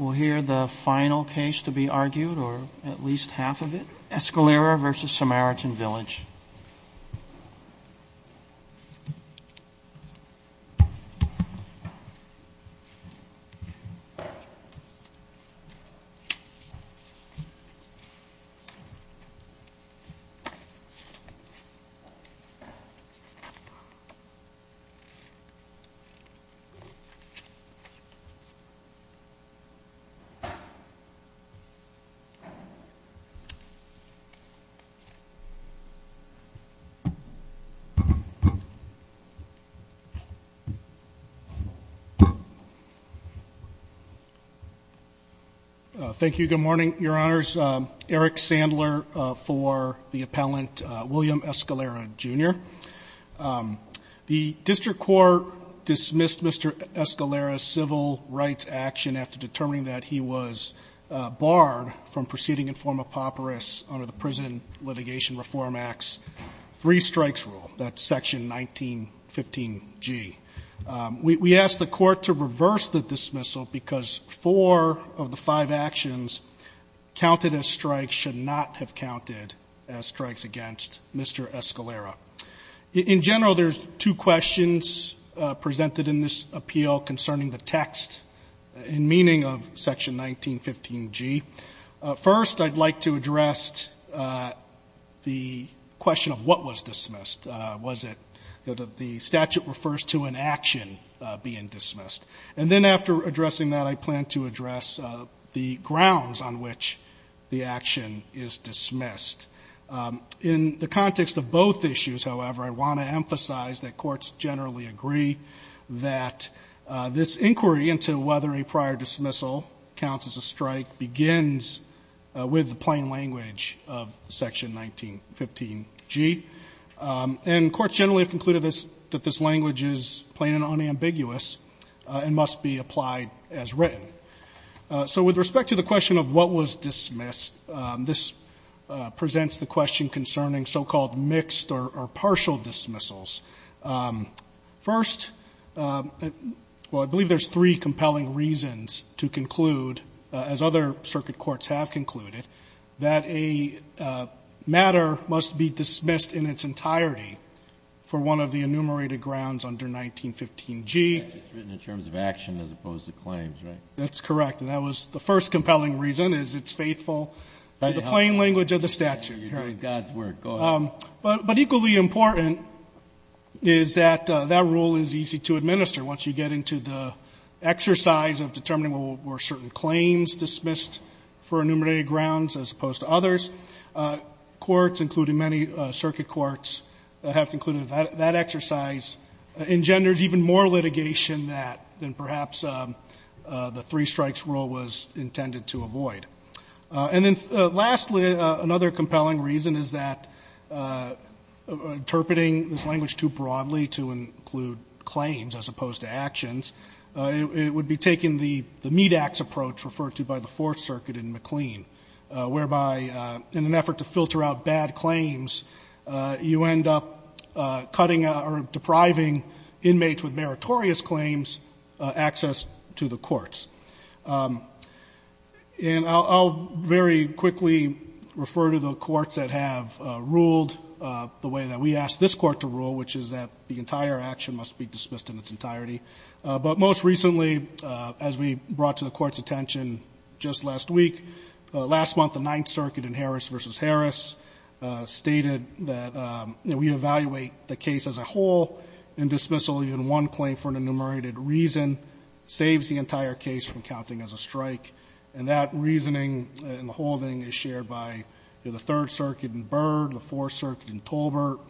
We'll hear the final case to be argued, or at least half of it, Escalera v. Samaritan Thank you. Good morning, Your Honors. Eric Sandler for the appellant William Escalera, Jr. The district court dismissed Mr. Escalera's civil rights action after determining that he was barred from proceeding in form of papyrus under the Prison Litigation Reform Act's three-strikes rule, that's section 1915G. We asked the court to reverse the dismissal because four of the five actions counted as strikes should not have counted as strikes against Mr. Escalera. We asked the court to reverse the dismissal In general, there's two questions presented in this appeal concerning the text and meaning of section 1915G. First, I'd like to address the question of what was dismissed. Was it that the statute refers to an action being dismissed? And then after addressing that, I plan to address the grounds on which the action is dismissed. In the context of both issues, however, I want to emphasize that courts generally agree that this inquiry into whether a prior dismissal counts as a strike begins with the plain language of section 1915G. And courts generally have concluded that this language is plain and unambiguous and must be applied as written. So with respect to the question of what was dismissed, this presents the question concerning so-called mixed or partial dismissals. First, well, I believe there's three compelling reasons to conclude, as other circuit courts have concluded, that a matter must be dismissed in its entirety for one of the enumerated grounds under 1915G. It's written in terms of action as opposed to claims, right? That's correct. And that was the first compelling reason, is it's faithful to the plain language of the statute. You're doing God's work. Go ahead. But equally important is that that rule is easy to administer. Once you get into the exercise of determining, well, were certain claims dismissed for enumerated grounds as opposed to others, courts, including many circuit courts, have concluded that that exercise engenders even more litigation than perhaps the three-strikes rule was intended to avoid. And then lastly, another compelling reason is that interpreting this language too broadly to include claims as opposed to actions, it would be taking the meat-axe approach referred to by the Fourth Circuit in McLean, whereby in an effort to filter out bad claims, you end up cutting out or depriving inmates with meritorious claims access to the courts. And I'll very quickly refer to the courts that have ruled the way that we asked this Court to rule, which is that the entire action must be dismissed in its entirety. But most recently, as we brought to the Court's attention, Justice Harris stated that, you know, we evaluate the case as a whole, and dismissal even one claim for an enumerated reason saves the entire case from counting as a strike. And that reasoning and holding is shared by the Third Circuit in Byrd, the Fourth Circuit in Tolbert,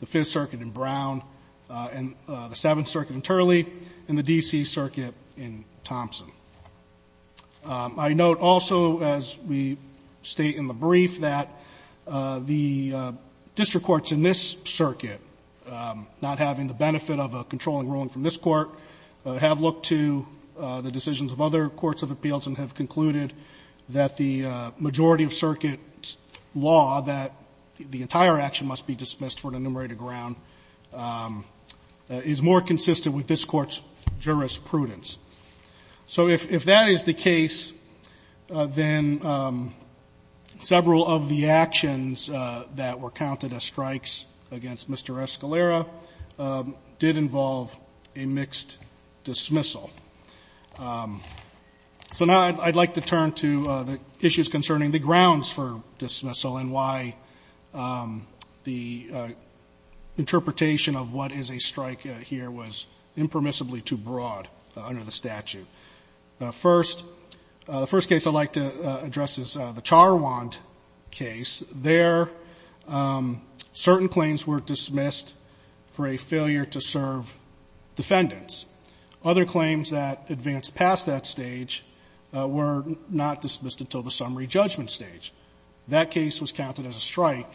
the Fifth Circuit in Brown, and the Seventh Circuit in Turley, and the D.C. Circuit in Thompson. I note also, as we state in the brief, that the district courts in this circuit, not having the benefit of a controlling ruling from this Court, have looked to the decisions of other courts of appeals and have concluded that the majority of Circuit's law that the entire action must be dismissed for an enumerated ground is more consistent with this Court's jurisprudence. So if that is the case, then several of the actions that were counted as strikes against Mr. Escalera did involve a mixed dismissal. So now I'd like to turn to the issues concerning the grounds for dismissal and why the interpretation of what is a strike here was impermissibly too broad under the statute. First, the first case I'd like to address is the Charwant case. There, certain claims were dismissed for a failure to serve defendants. Other claims that advanced past that stage were not dismissed until the summary judgment stage. That case was counted as a strike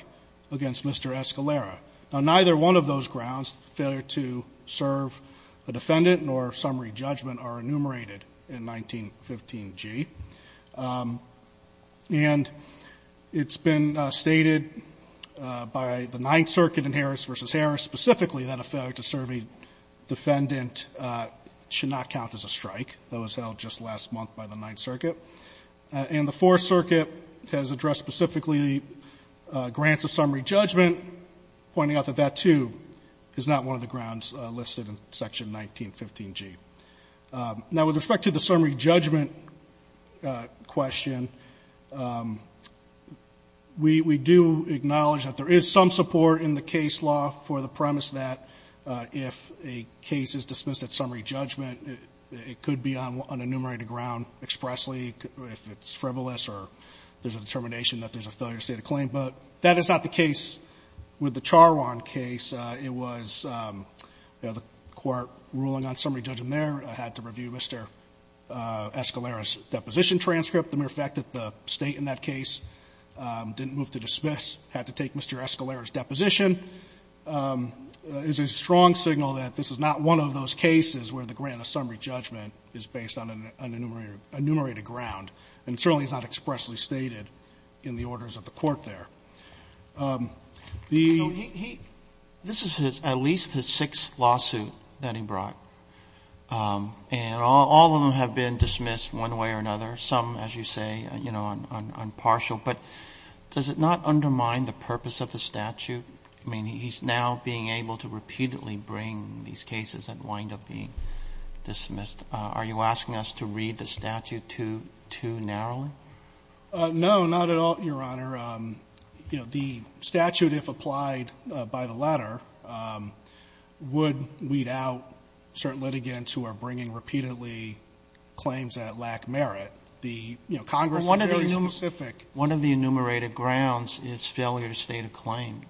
against Mr. Escalera. Now, neither one of those grounds, failure to serve a defendant nor summary judgment, are enumerated in 1915g. And it's been stated by the Ninth Circuit in Harris v. Harris specifically that a failure to serve a defendant should not count as a strike. That was held just last month by the Ninth Circuit. And the Fourth Circuit has addressed specifically grants of summary judgment, pointing out that that, too, is not one of the grounds listed in section 1915g. Now, with respect to the summary judgment question, we do acknowledge that there is some support in the case law for the premise that if a case is dismissed at summary judgment, it could be dismissed at summary judgment, it could be on enumerated ground expressly, if it's frivolous or there's a determination that there's a failure to state a claim. But that is not the case with the Charwant case. It was, you know, the court ruling on summary judgment there had to review Mr. Escalera's deposition transcript. The mere fact that the State in that case didn't move to dismiss, had to take Mr. Escalera's deposition, is a strong signal that this is not one of those cases where the grant of summary judgment is based on an enumerated ground. And certainly it's not expressly stated in the orders of the court there. The he he this is his at least his sixth lawsuit that he brought. And all of them have been dismissed one way or another, some, as you say, you know, on partial. But does it not undermine the purpose of the statute? I mean, he's now being able to repeatedly bring these cases that wind up being dismissed. Are you asking us to read the statute too, too narrowly? No, not at all, Your Honor. You know, the statute, if applied by the letter, would weed out certain litigants who are bringing repeatedly claims that lack merit. The, you know, Congress was very specific. One of the enumerated grounds is failure to state a claim.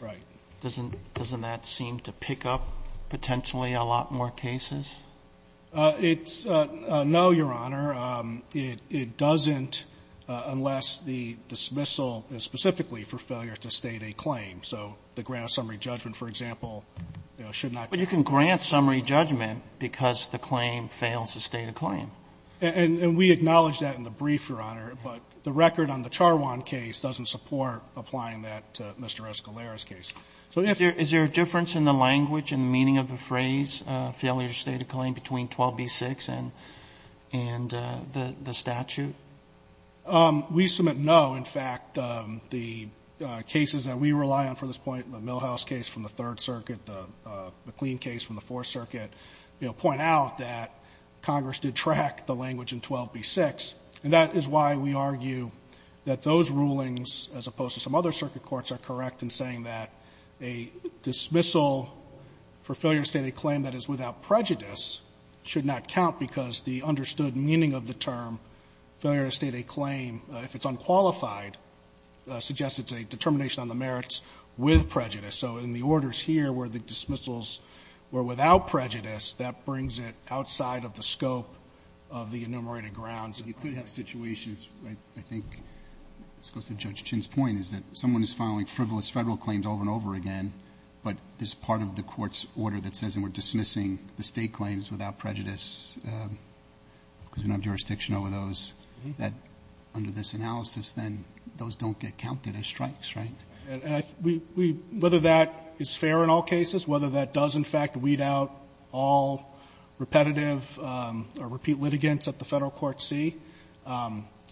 Right. Doesn't doesn't that seem to pick up potentially a lot more cases? It's no, Your Honor. It doesn't unless the dismissal is specifically for failure to state a claim. So the grant of summary judgment, for example, you know, should not be. But you can grant summary judgment because the claim fails to state a claim. And we acknowledge that in the brief, Your Honor. But the record on the Charwan case doesn't support applying that to Mr. Escalera's case. So if you're Is there a difference in the language and the meaning of the phrase, failure to state a claim, between 12b-6 and the statute? We submit no. In fact, the cases that we rely on for this point, the Milhouse case from the Third Circuit, the McLean case from the Fourth Circuit, you know, point out that Congress did track the language in 12b-6. And that is why we argue that those rulings, as opposed to some other circuit courts, are correct in saying that a dismissal for failure to state a claim that is without prejudice should not count because the understood meaning of the term failure to state a claim, if it's unqualified, suggests it's a determination on the merits with prejudice. So in the orders here where the dismissals were without prejudice, that brings it outside of the scope of the enumerated grounds. And you could have situations, I think, this goes to Judge Chinn's point, is that if someone is filing frivolous Federal claims over and over again, but there's part of the court's order that says we're dismissing the state claims without prejudice because we don't have jurisdiction over those, that under this analysis, then those don't get counted as strikes, right? And I think we – whether that is fair in all cases, whether that does, in fact, weed out all repetitive or repeat litigants at the Federal court C,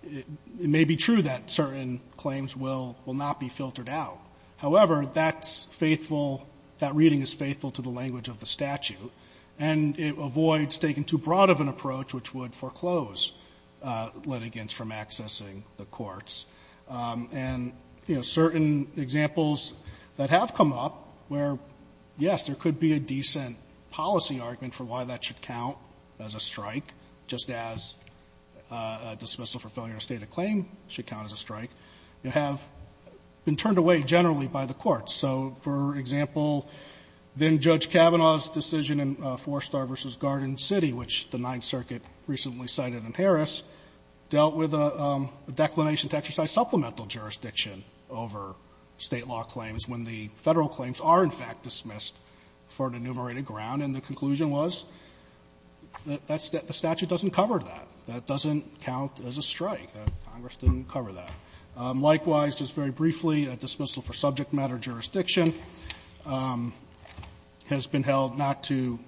it may be true that certain claims will not be filtered out. However, that's faithful – that reading is faithful to the language of the statute. And it avoids taking too broad of an approach, which would foreclose litigants from accessing the courts. And, you know, certain examples that have come up where, yes, there could be a decent policy argument for why that should count as a strike, just as a dismissal for failure to state a claim should count as a strike, have been turned away generally by the courts. So, for example, then-Judge Kavanaugh's decision in Forstar v. Garden City, which the Ninth Circuit recently cited in Harris, dealt with a declination to exercise supplemental jurisdiction over State law claims when the Federal claims are, in fact, dismissed for an enumerated ground. And the conclusion was that the statute doesn't cover that. That doesn't count as a strike. Congress didn't cover that. Likewise, just very briefly, a dismissal for subject matter jurisdiction has been held not to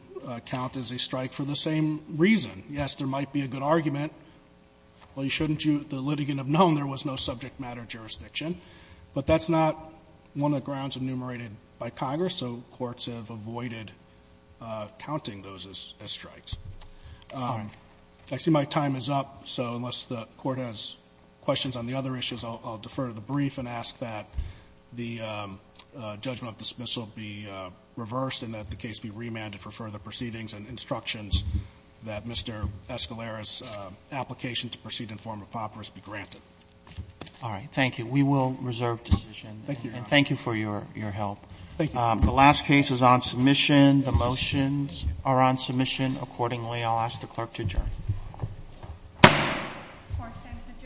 count as a strike for the same reason. Yes, there might be a good argument, well, shouldn't you, the litigant, have known there was no subject matter jurisdiction, but that's not one of the grounds enumerated by Congress, so courts have avoided counting those as strikes. I see my time is up, so unless the Court has questions on the other issues, I'll defer to the brief and ask that the judgment of dismissal be reversed and that the case be remanded for further proceedings and instructions that Mr. Escalera's application to proceed in form of papyrus be granted. Robertson, Thank you. We will reserve decision. And thank you for your help. The last case is on submission. The motions are on submission. Accordingly, I'll ask the clerk to adjourn. The court stands adjourned. We are adjourned. We are adjourned.